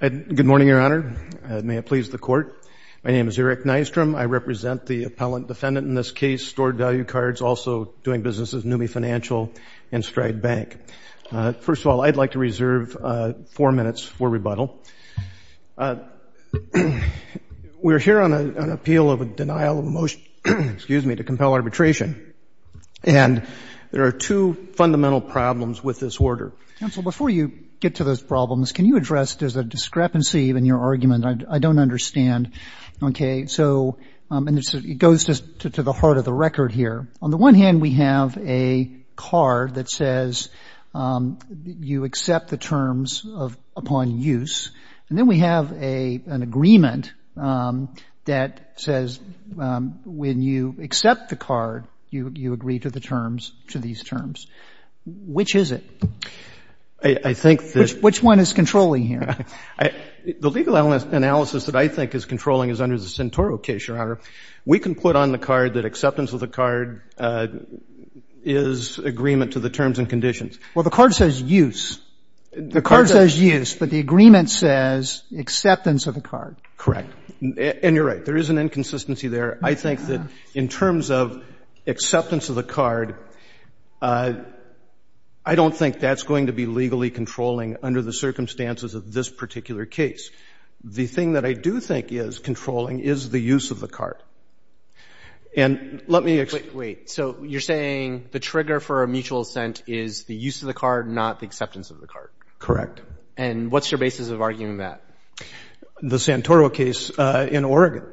Good morning, Your Honor. May it please the Court. My name is Eric Nystrom. I represent the appellant defendant in this case, Stored Value Cards, also doing business as NUMMI Financial and Stride Bank. First of all, I'd like to reserve four minutes for rebuttal. We're here on an appeal of a denial of motion to compel arbitration, and there are two fundamental problems with this order. Counsel, before you get to those problems, can you address there's a discrepancy in your argument? I don't understand. Okay. So it goes to the heart of the record here. On the one hand, we have a card that says you accept the terms upon use, and then we have an agreement that says when you accept the card, you agree to the terms, to these terms. Which is it? I think that Which one is controlling here? The legal analysis that I think is controlling is under the Centoro case, Your Honor. We can put on the card that acceptance of the card is agreement to the terms and conditions. Well, the card says use. The card says use, but the agreement says acceptance of the card. Correct. And you're right. There is an inconsistency there. I think that in terms of acceptance of the card, I don't think that's going to be legally controlling under the circumstances of this particular case. The thing that I do think is controlling is the use of the card. Wait. So you're saying the trigger for a mutual assent is the use of the card, not the acceptance of the card? Correct. And what's your basis of arguing that? The Centoro case in Oregon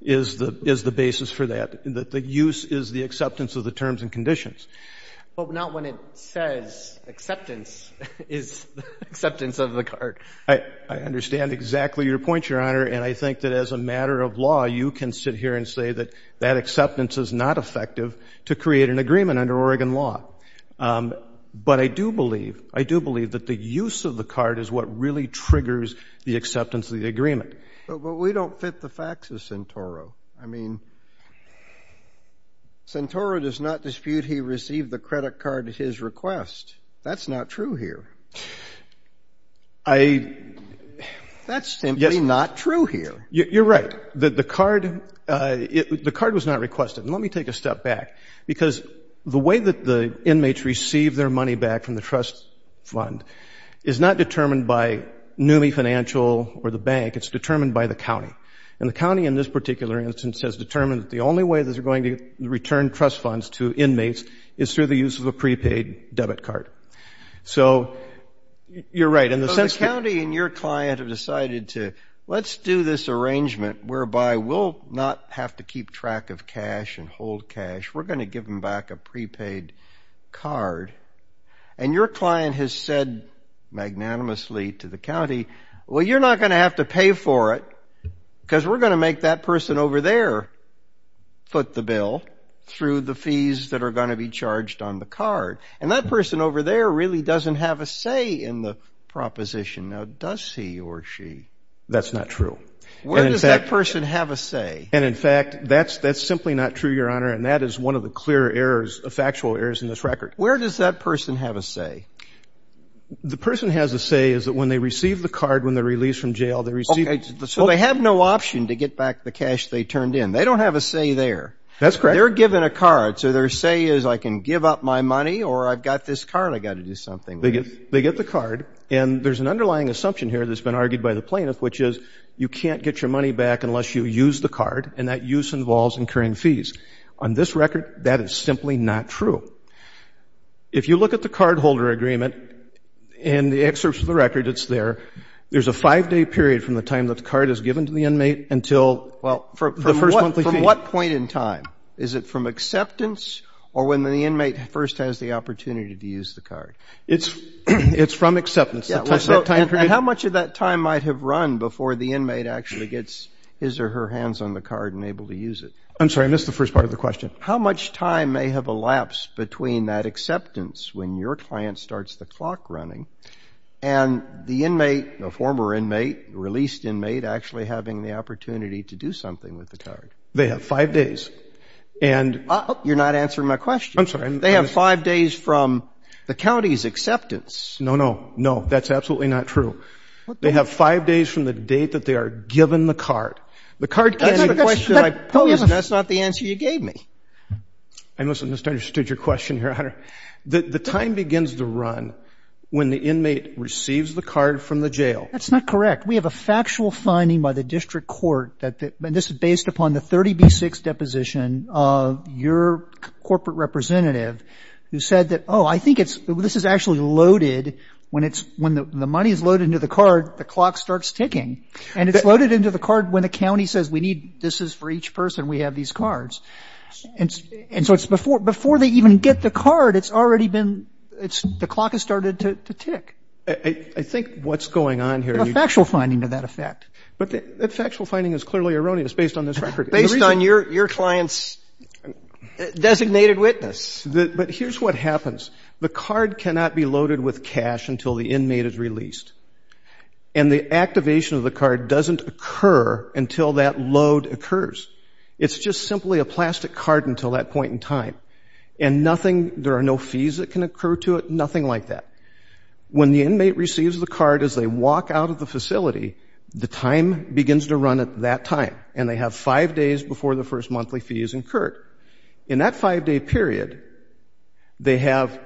is the basis for that. The use is the acceptance of the terms and conditions. But not when it says acceptance is acceptance of the card. I understand exactly your point, Your Honor. And I think that as a matter of law, you can sit here and say that that acceptance is not effective to create an agreement under Oregon law. But I do believe that the use of the card is what really triggers the acceptance of the agreement. But we don't fit the facts of Centoro. I mean, Centoro does not dispute he received the credit card at his request. That's not true here. That's simply not true here. You're right. The card was not requested. And let me take a step back. Because the way that the inmates receive their money back from the trust fund is not determined by NUMMI Financial or the bank. It's determined by the county. And the county in this particular instance has determined that the only way that they're going to return trust funds to inmates is through the use of a prepaid debit card. So you're right. The county and your client have decided to, let's do this arrangement whereby we'll not have to keep track of cash and hold cash. We're going to give them back a prepaid card. And your client has said magnanimously to the county, well, you're not going to have to pay for it because we're going to make that person over there foot the bill through the fees that are going to be charged on the card. And that person over there really doesn't have a say in the proposition. Now, does he or she? That's not true. Where does that person have a say? And in fact, that's simply not true, Your Honor. And that is one of the clear errors, factual errors in this record. Where does that person have a say? The person has a say is that when they receive the card, when they're released from jail, they receive it. So they have no option to get back the cash they turned in. They don't have a say there. That's correct. They're given a card. So their say is, I can give up my money or I've got this card. I've got to do something. They get the card. And there's an underlying assumption here that's been argued by the plaintiff, which is you can't get your money back unless you use the card. And that use involves incurring fees. On this record, that is simply not true. If you look at the cardholder agreement and the excerpts of the record, it's there. There's a five-day period from the time that the card is given to the inmate until the first monthly fee. Well, from what point in time? Is it from acceptance or when the inmate first has the opportunity to use the card? It's from acceptance. And how much of that time might have run before the inmate actually gets his or her hands on the card and able to use it? I'm sorry, I missed the first part of the question. How much time may have elapsed between that acceptance when your client starts the clock running and the inmate, the former inmate, released inmate, actually having the opportunity to do something with the card? They have five days. And you're not answering my question. I'm sorry. They have five days from the county's acceptance. No, no, no. That's absolutely not true. They have five days from the date that they are given the card. The card can't answer the question I posed, and that's not the answer you gave me. I must have misunderstood your question here, Your Honor. The time begins to run when the inmate receives the card from the jail. That's not correct. We have a factual finding by the district court that this is based upon the 30B6 deposition of your corporate representative, who said that, oh, I think it's, this is actually loaded when it's, when the money is loaded into the card, the clock starts ticking. And it's loaded into the card when the county says, we need, this is for each person, we have these cards. And so it's before, before they even get the card, it's already been, it's, the clock has started to tick. I think what's going on here. You have a factual finding to that effect. But that factual finding is clearly erroneous based on this record. Based on your client's designated witness. But here's what happens. The card cannot be loaded with cash until the inmate is released. And the activation of the card doesn't occur until that load occurs. It's just simply a plastic card until that point in time. And nothing, there are no fees that can occur to it, nothing like that. When the inmate receives the card as they walk out of the facility, the time begins to run at that time. And they have five days before the first monthly fee is incurred. In that five-day period, they have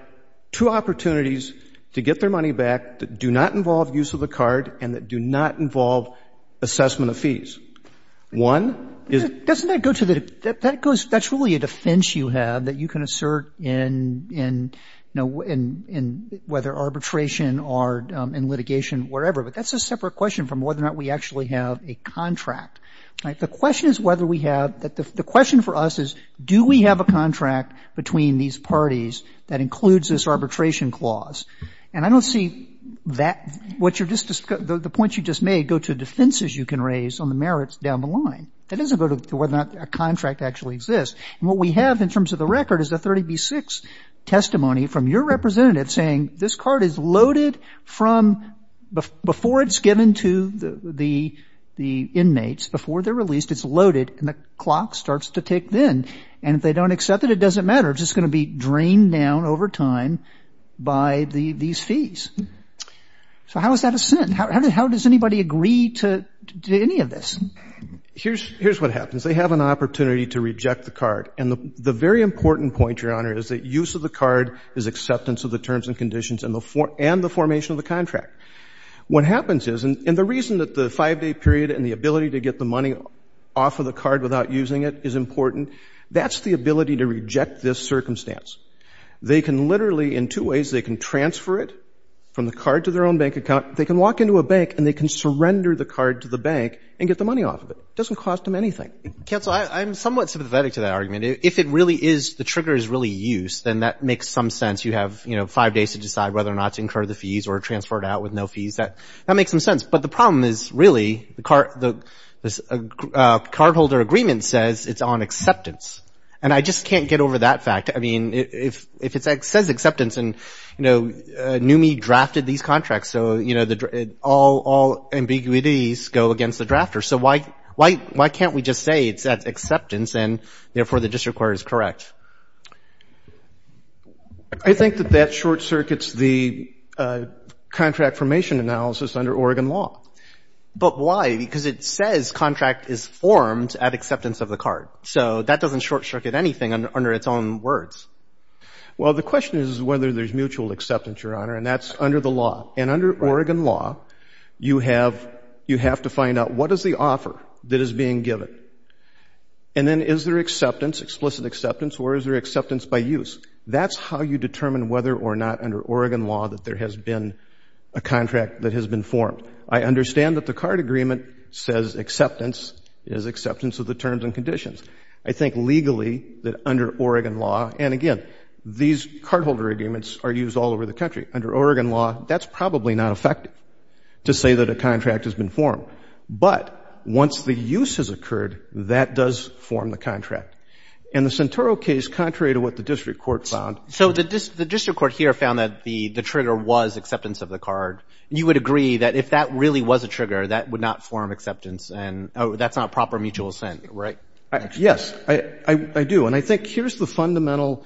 two opportunities to get their money back that do not involve use of the card and that do not involve assessment of fees. One is — Roberts. Doesn't that go to the, that goes, that's really a defense you have that you can assert in, you know, in, in whether arbitration or in litigation, wherever. But that's a separate question from whether or not we actually have a contract. The question is whether we have, the question for us is do we have a contract between these parties that includes this arbitration clause. And I don't see that, what you're just, the points you just made go to defenses you can raise on the merits down the line. That doesn't go to whether or not a contract actually exists. And what we have in terms of the record is a 30B6 testimony from your representative saying this card is loaded from before it's given to the, the inmates, before they're released, it's loaded, and the clock starts to tick then. And if they don't accept it, it doesn't matter. It's just going to be drained down over time by the, these fees. So how is that a sin? How, how does anybody agree to, to any of this? Here's, here's what happens. They have an opportunity to reject the card. And the, the very important point, Your Honor, is that use of the card is acceptance of the terms and conditions and the, and the formation of the contract. What happens is, and, and the reason that the 5-day period and the ability to get the money off of the card without using it is important, that's the ability to reject this circumstance. They can literally, in two ways, they can transfer it from the card to their own bank account, they can walk into a bank and they can surrender the card to the bank and get the money off of it. It doesn't cost them anything. Roberts. Counsel, I, I'm somewhat sympathetic to that argument. If it really is, the trigger is really use, then that makes some sense. You have, you know, 5 days to decide whether or not to incur the fees or transfer it out with no fees. That, that makes some sense. But the problem is, really, the card, the, this cardholder agreement says it's on acceptance. And I just can't get over that fact. I mean, if, if it says acceptance and, you know, NUME drafted these contracts, so, you know, the, all, all ambiguities go against the drafter. So why, why, why can't we just say it's at acceptance and, therefore, the district court is correct? I think that that short-circuits the contract formation analysis under Oregon law. But why? Because it says contract is formed at acceptance of the card. So that doesn't short-circuit anything under, under its own words. Well, the question is whether there's mutual acceptance, Your Honor, and that's under the law. And under Oregon law, you have, you have to find out what is the offer that is being given. And then is there acceptance, explicit acceptance, or is there acceptance by use? That's how you determine whether or not under Oregon law that there has been a contract that has been formed. I understand that the card agreement says acceptance is acceptance of the terms and conditions. I think legally that under Oregon law, and again, these cardholder agreements are used all over the country. Under Oregon law, that's probably not effective to say that a contract has been formed. But once the use has occurred, that does form the contract. In the Centoro case, contrary to what the district court found. So the district court here found that the trigger was acceptance of the card. You would agree that if that really was a trigger, that would not form acceptance, and that's not proper mutual assent, right? Yes, I do. And I think here's the fundamental,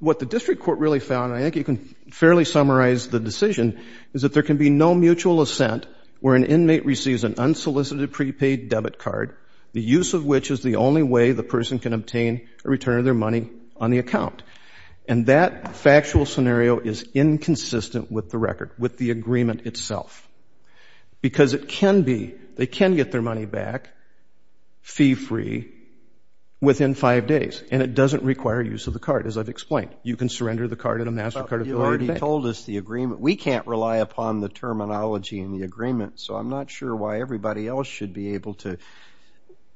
what the district court really found, and I think you can fairly summarize the decision, is that there can be no mutual assent where an inmate receives an unsolicited prepaid debit card, the use of which is the only way the person can obtain a return of their money on the account. And that factual scenario is inconsistent with the record, with the agreement itself. Because it can be, they can get their money back fee-free within five days, and it doesn't require use of the card, as I've explained. You can surrender the card at a master card affiliate bank. But you already told us the agreement. We can't rely upon the terminology in the agreement, so I'm not sure why everybody else should be able to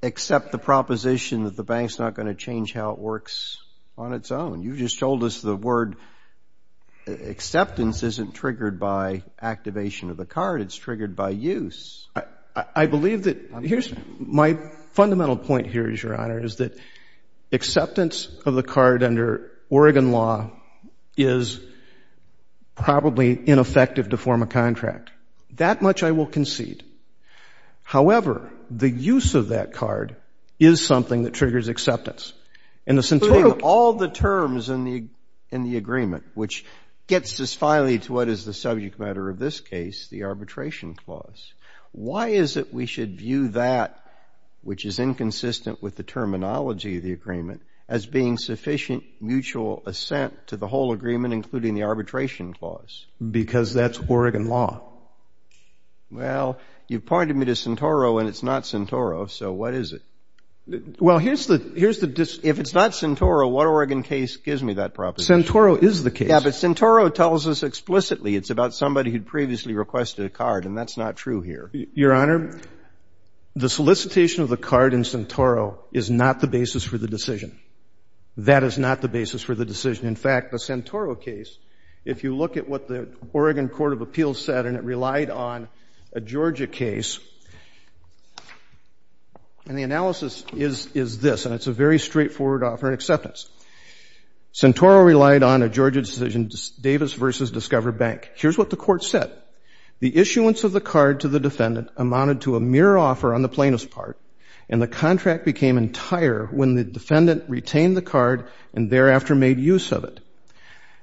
accept the proposition that the bank's not going to change how it works on its own. You just told us the word acceptance isn't triggered by activation of the card, it's triggered by use. I believe that, here's my fundamental point here, Your Honor, is that acceptance of the However, the use of that card is something that triggers acceptance. Including all the terms in the agreement, which gets us finally to what is the subject matter of this case, the arbitration clause. Why is it we should view that, which is inconsistent with the terminology of the agreement, as being sufficient mutual assent to the whole agreement, including the arbitration clause? Because that's Oregon law. Well, you pointed me to Centoro, and it's not Centoro, so what is it? Well, here's the, if it's not Centoro, what Oregon case gives me that proposition? Centoro is the case. Yeah, but Centoro tells us explicitly it's about somebody who'd previously requested a card, and that's not true here. Your Honor, the solicitation of the card in Centoro is not the basis for the decision. That is not the basis for the decision. In fact, the Centoro case, if you look at what the Oregon Court of Appeals said, and it relied on a Georgia case, and the analysis is this, and it's a very straightforward offer and acceptance. Centoro relied on a Georgia decision, Davis v. Discover Bank. Here's what the court said. The issuance of the card to the defendant amounted to a mere offer on the plaintiff's part, and the contract became entire when the defendant retained the card and thereafter made use of it.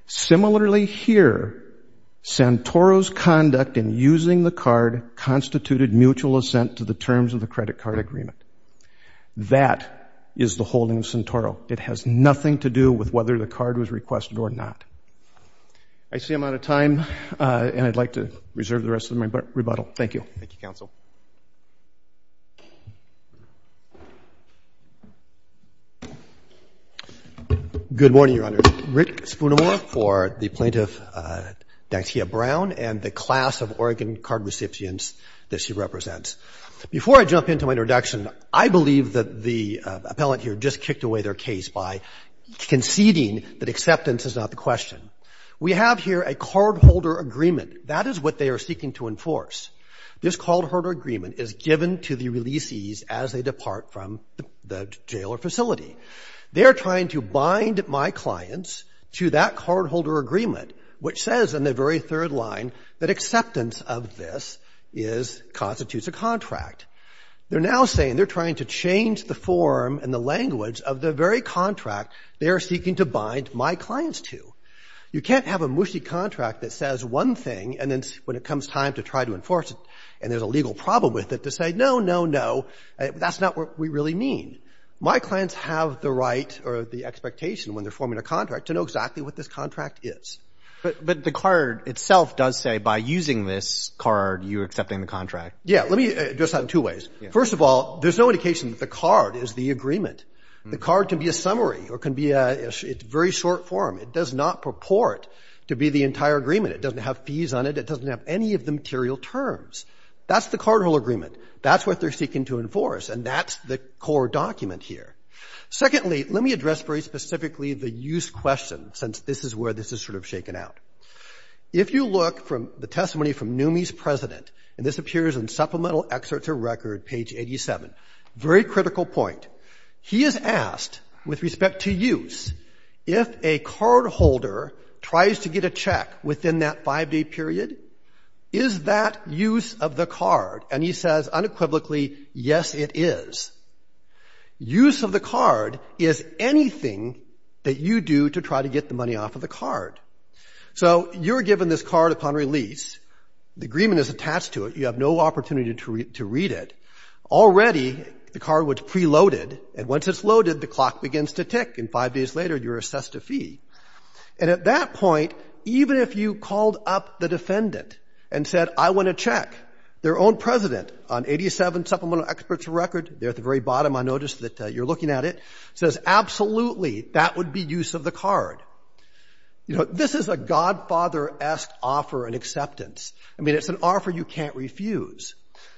Similarly, here, Centoro's conduct in using the card constituted mutual assent to the terms of the credit card agreement. That is the holding of Centoro. It has nothing to do with whether the card was requested or not. I see I'm out of time, and I'd like to reserve the rest of my rebuttal. Thank you. Thank you, counsel. Good morning, Your Honor. Rick Spoonimore for the plaintiff, Dantia Brown, and the class of Oregon card recipients that she represents. Before I jump into my introduction, I believe that the appellant here just kicked away their case by conceding that acceptance is not the question. We have here a cardholder agreement. That is what they are seeking to enforce. This cardholder agreement is given to the releasees as they depart from the jail or facility. They are trying to bind my clients to that cardholder agreement, which says in the very third line that acceptance of this is – constitutes a contract. They're now saying they're trying to change the form and the language of the very contract they are seeking to bind my clients to. You can't have a Mushi contract that says one thing and then when it comes time to try to enforce it and there's a legal problem with it to say, no, no, no, that's not what we really mean. My clients have the right or the expectation when they're forming a contract to know exactly what this contract is. But the card itself does say by using this card you're accepting the contract. Yeah. Let me address that in two ways. First of all, there's no indication that the card is the agreement. The card can be a summary or can be a – it's very short form. It does not purport to be the entire agreement. It doesn't have fees on it. It doesn't have any of the material terms. That's the cardholder agreement. That's what they're seeking to enforce. And that's the core document here. Secondly, let me address very specifically the use question, since this is where this is sort of shaken out. If you look from the testimony from Numi's president, and this appears in Supplemental Excerpts of Record, page 87, very critical point. He is asked with respect to use, if a cardholder tries to get a check within that 5-day period, is that use of the card? And he says unequivocally, yes, it is. Use of the card is anything that you do to try to get the money off of the card. So you're given this card upon release. The agreement is attached to it. You have no opportunity to read it. Already, the card was preloaded, and once it's loaded, the clock begins to tick. And five days later, you're assessed a fee. And at that point, even if you called up the defendant and said, I want a check, their own president on 87 Supplemental Excerpts of Record, there at the very bottom I noticed that you're looking at it, says, absolutely, that would be use of the card. You know, this is a godfather-esque offer in acceptance. I mean, it's an offer you can't refuse,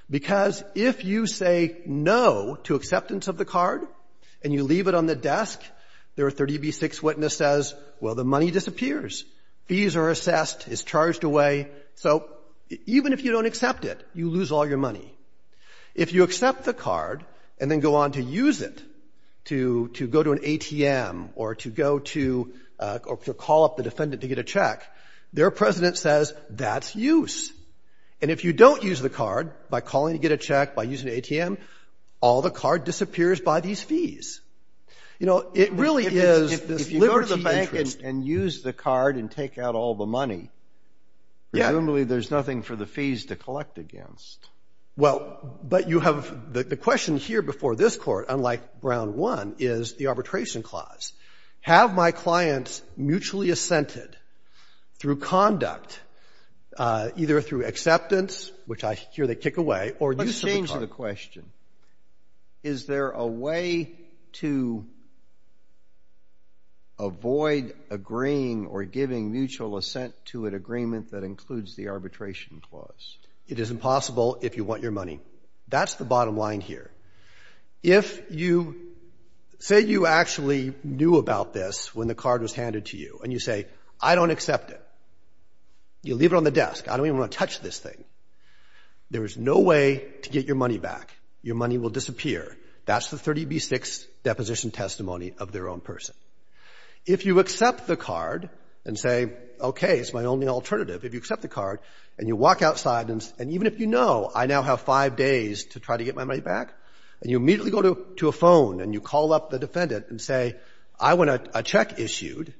because if you say no to acceptance of the card and you leave it on the desk, their 30b-6 witness says, well, the money disappears, fees are assessed, it's charged away. So even if you don't accept it, you lose all your money. If you accept the card and then go on to use it to go to an ATM or to go to call up the defendant to get a check, their president says, that's use. And if you don't use the card by calling to get a check by using the ATM, all the card disappears by these fees. You know, it really is this liberty interest. And use the card and take out all the money. Presumably, there's nothing for the fees to collect against. Well, but you have the question here before this court, unlike Brown 1, is the arbitration clause. Have my clients mutually assented through conduct, either through acceptance, which I hear they kick away, or use of the card? Let's change the question. Is there a way to avoid agreeing or giving mutual assent to an agreement that includes the arbitration clause? It is impossible if you want your money. That's the bottom line here. If you, say you actually knew about this when the card was handed to you, and you say, I don't accept it. You leave it on the desk. I don't even want to touch this thing. There is no way to get your money back. Your money will disappear. That's the 30B6 deposition testimony of their own person. If you accept the card and say, OK, it's my only alternative. If you accept the card, and you walk outside, and even if you know I now have five days to try to get my money back, and you immediately go to a phone, and you call up the defendant and say, I want a check issued,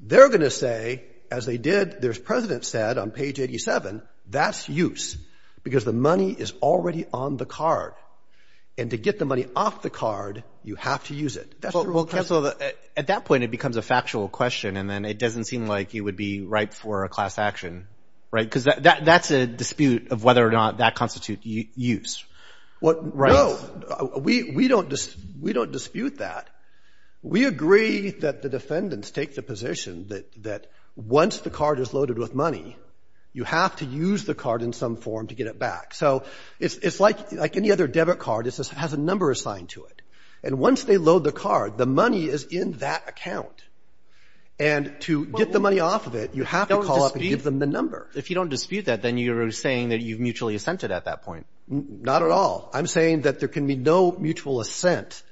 they're going to say, as they did, their president said on page 87, that's use. Because the money is already on the card. And to get the money off the card, you have to use it. That's the rule of principle. At that point, it becomes a factual question. And then it doesn't seem like you would be ripe for a class action, right? Because that's a dispute of whether or not that constitutes use. What rights? No, we don't dispute that. We agree that the defendants take the position that once the card is loaded with money, you have to use the card in some form to get it back. So it's like any other debit card. It has a number assigned to it. And once they load the card, the money is in that account. And to get the money off of it, you have to call up and give them the number. If you don't dispute that, then you're saying that you've mutually assented at that point. Not at all. I'm saying that there can be no mutual assent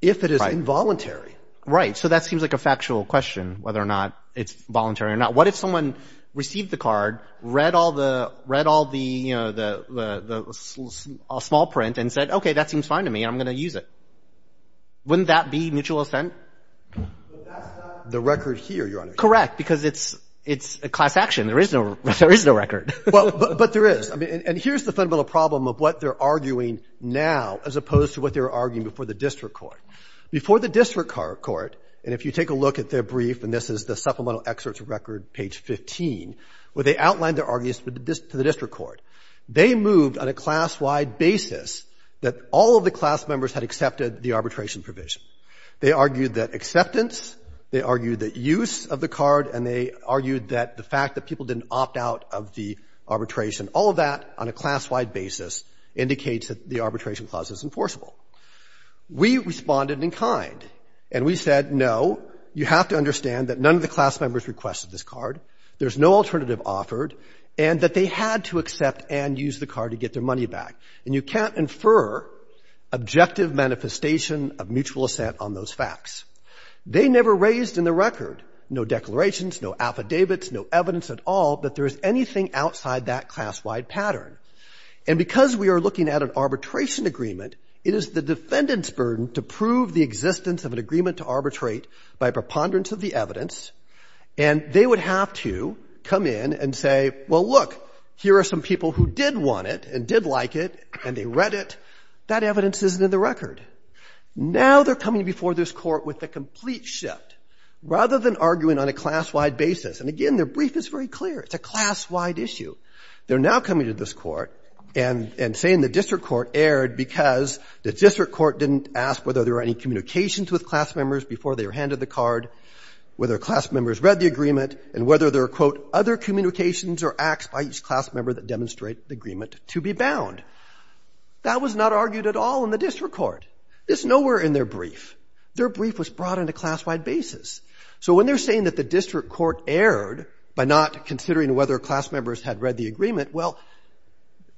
if it is involuntary. Right, so that seems like a factual question, whether or not it's voluntary or not. What if someone received the card, read all the small print and said, okay, that seems fine to me, I'm going to use it. Wouldn't that be mutual assent? The record here, Your Honor. Correct, because it's a class action. There is no record. But there is. And here's the fundamental problem of what they're arguing now, as opposed to what they were arguing before the district court. Before the district court, and if you take a look at their brief, and this is the supplemental excerpts record, page 15, where they outlined their arguments to the district court. They moved on a class-wide basis that all of the class members had accepted the arbitration provision. They argued that acceptance, they argued that use of the card, and they argued that the fact that people didn't opt out of the arbitration, all of that on a class-wide basis indicates that the arbitration clause is enforceable. We responded in kind, and we said, no, you have to understand that none of the class members requested this card, there's no alternative offered, and that they had to accept and use the card to get their money back. And you can't infer objective manifestation of mutual assent on those facts. They never raised in the record, no declarations, no affidavits, no evidence at all that there is anything outside that class-wide pattern. And because we are looking at an arbitration agreement, it is the defendant's burden to prove the existence of an agreement to arbitrate by preponderance of the evidence, and they would have to come in and say, well, look, here are some people who did want it and did like it, and they read it, that evidence isn't in the record. Now they're coming before this Court with a complete shift. Rather than arguing on a class-wide basis, and again, their brief is very clear, it's a class-wide issue. They're now coming to this Court and saying the district court erred because the district court didn't ask whether there were any communications with class members before they were handed the card, whether class members read the agreement, and whether there were, quote, other communications or acts by each class member that demonstrate the agreement to be bound. That was not argued at all in the district court. It's nowhere in their brief. Their brief was brought on a class-wide basis. So when they're saying that the district court erred by not considering whether class members had read the agreement, well,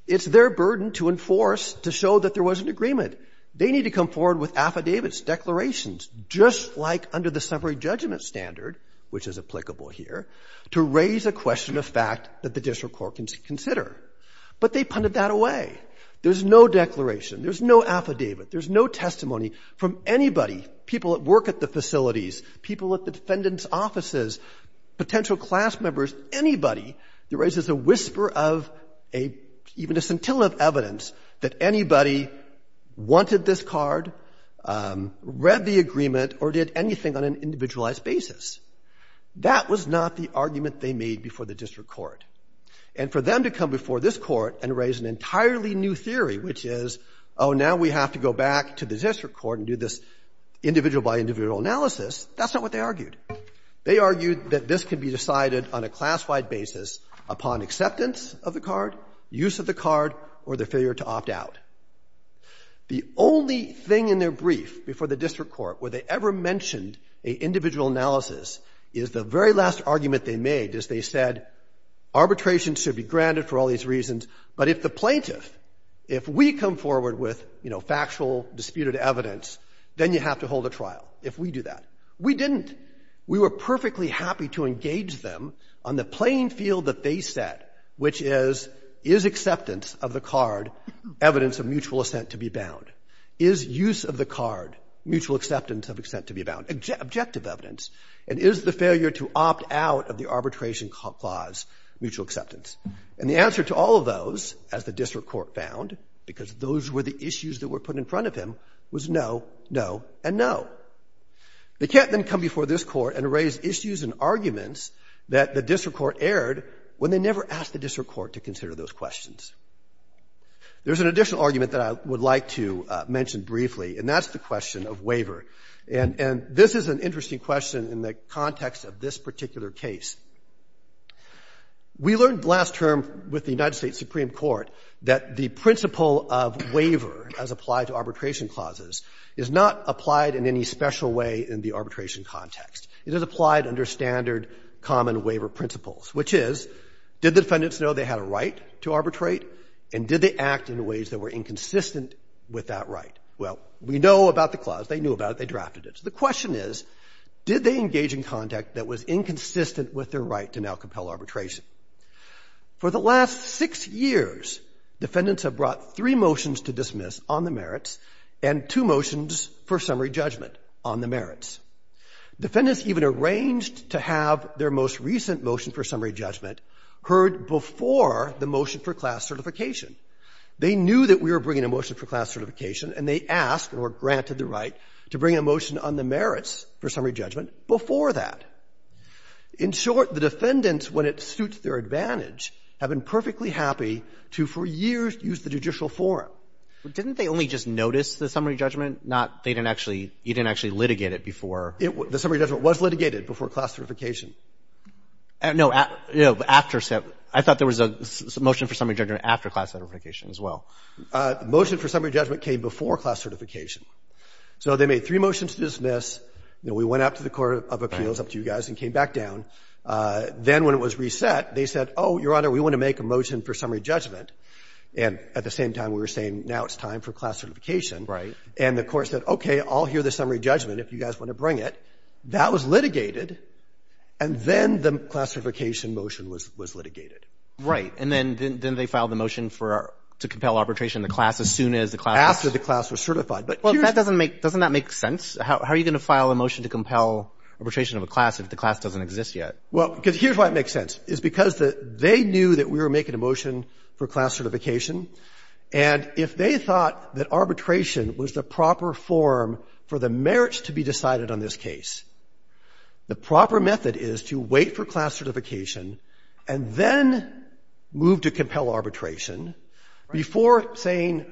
it's their burden to enforce to show that there was an agreement. They need to come forward with affidavits, declarations, just like under the summary judgment standard, which is applicable here, to raise a question of fact that the district court can consider. But they punted that away. There's no declaration. There's no affidavit. There's no testimony from anybody, people at work at the facilities, people at the defendant's offices, potential class members, anybody that raises a whisper of a – even a scintillant of evidence that anybody wanted this card, read the agreement, or did anything on an individualized basis. That was not the argument they made before the district court. And for them to come before this court and raise an entirely new theory, which is, oh, now we have to go back to the district court and do this individual by individual analysis, that's not what they argued. They argued that this could be decided on a class-wide basis upon acceptance of the card, use of the card, or the failure to opt out. The only thing in their brief before the district court where they ever mentioned a individual analysis is the very last argument they made, is they said arbitration should be granted for all these reasons, but if the plaintiff, if we come forward with factual, disputed evidence, then you have to hold a trial if we do that. We didn't. We were perfectly happy to engage them on the playing field that they set, which is, is acceptance of the card evidence of mutual assent to be bound? Objective evidence, and is the failure to opt out of the arbitration clause mutual acceptance? And the answer to all of those, as the district court found, because those were the issues that were put in front of him, was no, no, and no. They can't then come before this court and raise issues and arguments that the district court aired when they never asked the district court to consider those questions. There's an additional argument that I would like to mention briefly, and that's the question of waiver. And this is an interesting question in the context of this particular case. We learned last term with the United States Supreme Court that the principle of waiver as applied to arbitration clauses is not applied in any special way in the arbitration context. It is applied under standard common waiver principles, which is, did the defendants know they had a right to arbitrate, and did they act in ways that were inconsistent with that right? Well, we know about the clause, they knew about it, they drafted it. So the question is, did they engage in conduct that was inconsistent with their right to now compel arbitration? For the last six years, defendants have brought three motions to dismiss on the merits and two motions for summary judgment on the merits. Defendants even arranged to have their most recent motion for summary judgment heard before the motion for class certification. They knew that we were bringing a motion for class certification, and they asked or granted the right to bring a motion on the merits for summary judgment before that. In short, the defendants, when it suits their advantage, have been perfectly happy to, for years, use the judicial forum. But didn't they only just notice the summary judgment, not they didn't actually – you didn't actually litigate it before? The summary judgment was litigated before class certification. No, after – I thought there was a motion for summary judgment after class certification. There was a motion for summary judgment after class certification as well. The motion for summary judgment came before class certification. So they made three motions to dismiss, you know, we went out to the Court of Appeals, up to you guys, and came back down. Then when it was reset, they said, oh, Your Honor, we want to make a motion for summary judgment. And at the same time, we were saying, now it's time for class certification. Right. And the Court said, okay, I'll hear the summary judgment if you guys want to bring it. That was litigated. And then the class certification motion was litigated. Right. And then they filed a motion for – to compel arbitration of the class as soon as the class was – After the class was certified. But here's – Well, that doesn't make – doesn't that make sense? How are you going to file a motion to compel arbitration of a class if the class doesn't exist yet? Well, because here's why it makes sense. It's because they knew that we were making a motion for class certification. And if they thought that arbitration was the proper form for the merits to be decided on this case, the proper method is to wait for class certification and then move to compel arbitration before saying,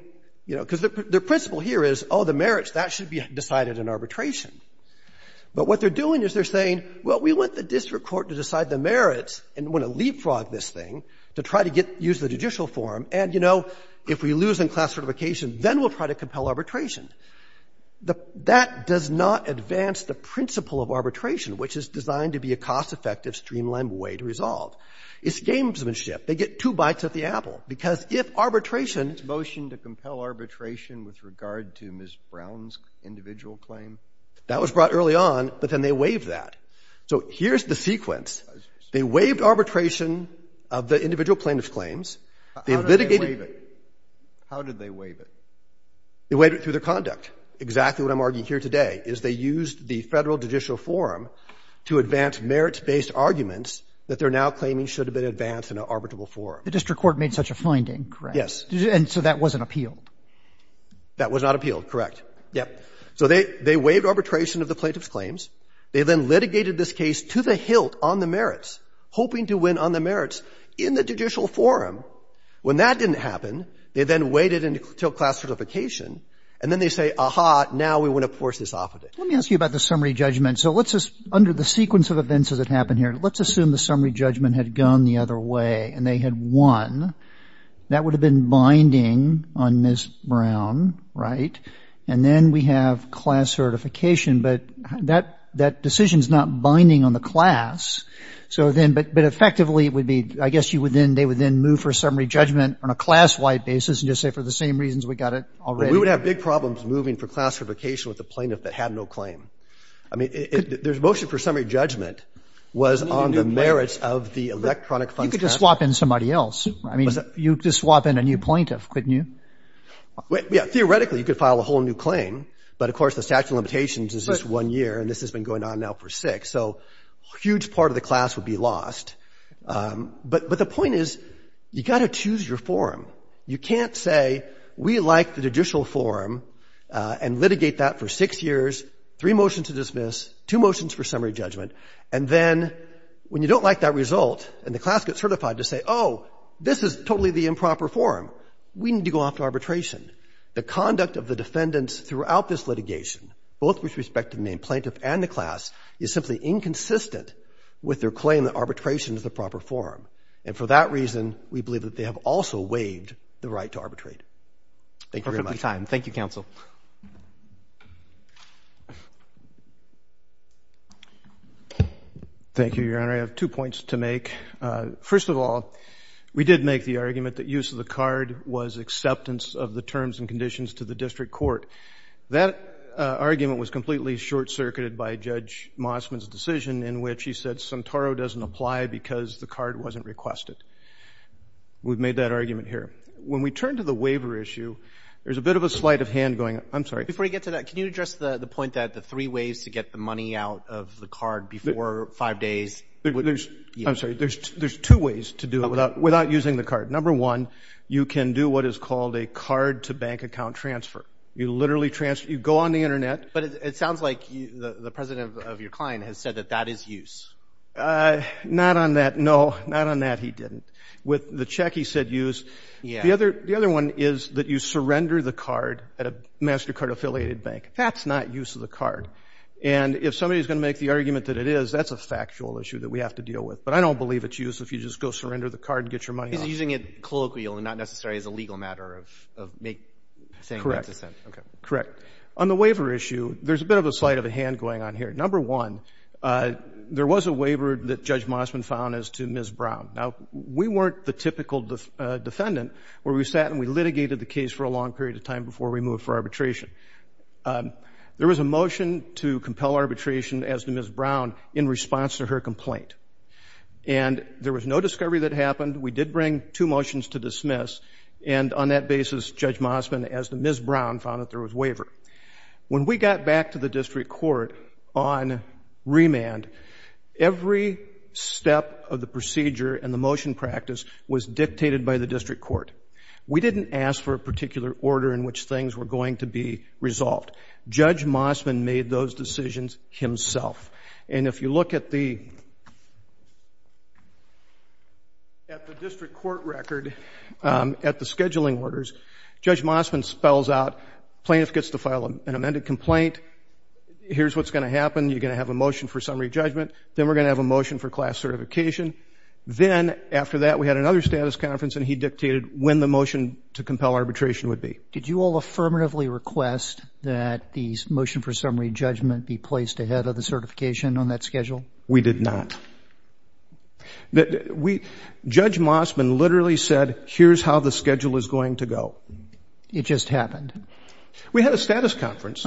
you know, because the principle here is, oh, the merits, that should be decided in arbitration. But what they're doing is they're saying, well, we want the district court to decide the merits and want to leapfrog this thing to try to get – use the judicial forum. And, you know, if we lose in class certification, then we'll try to compel arbitration. That does not advance the principle of arbitration, which is designed to be a cost-effective, streamlined way to resolve. It's gamesmanship. They get two bites at the apple, because if arbitration – Was this motion to compel arbitration with regard to Ms. Brown's individual claim? That was brought early on, but then they waived that. So here's the sequence. They waived arbitration of the individual plaintiff's claims. They litigated – How did they waive it? They waived it through their conduct. Exactly what I'm arguing here today is they used the Federal Judicial Forum to advance merits-based arguments that they're now claiming should have been advanced in an arbitrable forum. The district court made such a finding, correct? Yes. And so that wasn't appealed? That was not appealed, correct. Yes. So they waived arbitration of the plaintiff's claims. They then litigated this case to the hilt on the merits, hoping to win on the merits in the judicial forum. When that didn't happen, they then waited until class certification, and then they say, aha, now we want to force this off of it. Let me ask you about the summary judgment. So let's just – under the sequence of events as it happened here, let's assume the summary judgment had gone the other way and they had won. That would have been binding on Ms. Brown, right? And then we have class certification, but that decision's not binding on the class. So then – but effectively, it would be – I guess you would then – they would then move for a summary judgment on a class-wide basis and just say, for the same reasons we got it already. Well, we would have big problems moving for class certification with a plaintiff that had no claim. I mean, there's a motion for summary judgment was on the merits of the electronic funds – You could just swap in somebody else. I mean, you could just swap in a new plaintiff, couldn't you? Yeah. Theoretically, you could file a whole new claim. But of course, the statute of limitations is just one year, and this has been going on now for six. So a huge part of the class would be lost. But the point is you've got to choose your forum. You can't say we like the judicial forum and litigate that for six years, three motions to dismiss, two motions for summary judgment, and then when you don't like that result and the class gets certified to say, oh, this is totally the improper forum, we need to go off to arbitration. The conduct of the defendants throughout this litigation, both with respect to the main And for that reason, we believe that they have also waived the right to arbitrate. Thank you very much. Perfectly timed. Thank you, counsel. Thank you, Your Honor. I have two points to make. First of all, we did make the argument that use of the card was acceptance of the terms and conditions to the district court. That argument was completely short-circuited by Judge Mossman's decision in which he because the card wasn't requested. We've made that argument here. When we turn to the waiver issue, there's a bit of a sleight of hand going. I'm sorry. Before we get to that, can you address the point that the three ways to get the money out of the card before five days? I'm sorry. There's two ways to do it without using the card. Number one, you can do what is called a card-to-bank account transfer. You literally transfer. You go on the Internet. But it sounds like the president of your client has said that that is use. Not on that, no. Not on that, he didn't. With the check, he said use. The other one is that you surrender the card at a MasterCard-affiliated bank. That's not use of the card. And if somebody's going to make the argument that it is, that's a factual issue that we have to deal with. But I don't believe it's use if you just go surrender the card and get your money out. He's using it colloquially, not necessarily as a legal matter of saying that's a sin. Correct. On the waiver issue, there's a bit of a sleight of hand going on here. Number one, there was a waiver that Judge Mosman found as to Ms. Brown. Now, we weren't the typical defendant where we sat and we litigated the case for a long period of time before we moved for arbitration. There was a motion to compel arbitration as to Ms. Brown in response to her complaint. And there was no discovery that happened. We did bring two motions to dismiss. And on that basis, Judge Mosman, as to Ms. Brown, found that there was waiver. When we got back to the district court on remand, every step of the procedure and the motion practice was dictated by the district court. We didn't ask for a particular order in which things were going to be resolved. Judge Mosman made those decisions himself. And if you look at the district court record at the scheduling orders, Judge Mosman spells out, plaintiff gets to file an amended complaint. Here's what's going to happen. You're going to have a motion for summary judgment. Then we're going to have a motion for class certification. Then after that, we had another status conference and he dictated when the motion to compel arbitration would be. Did you all affirmatively request that the motion for summary judgment be placed ahead of the certification on that schedule? We did not. Judge Mosman literally said, here's how the schedule is going to go. It just happened. We had a status conference.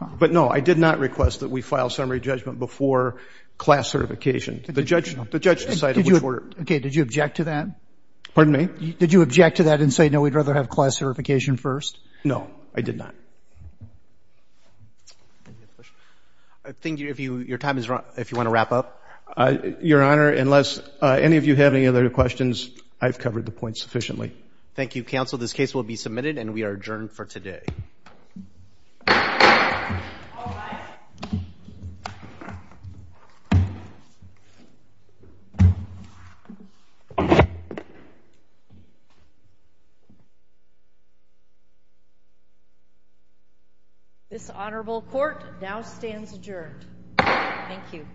But no, I did not request that we file summary judgment before class certification. The judge decided which order. Okay. Did you object to that? Pardon me? Did you object to that and say, no, we'd rather have class certification first? No. I did not. I think your time is up. If you want to wrap up. Your Honor, unless any of you have any other questions, I've covered the point sufficiently. Thank you, counsel. This case will be submitted and we are adjourned for today. This honorable court now stands adjourned. Thank you.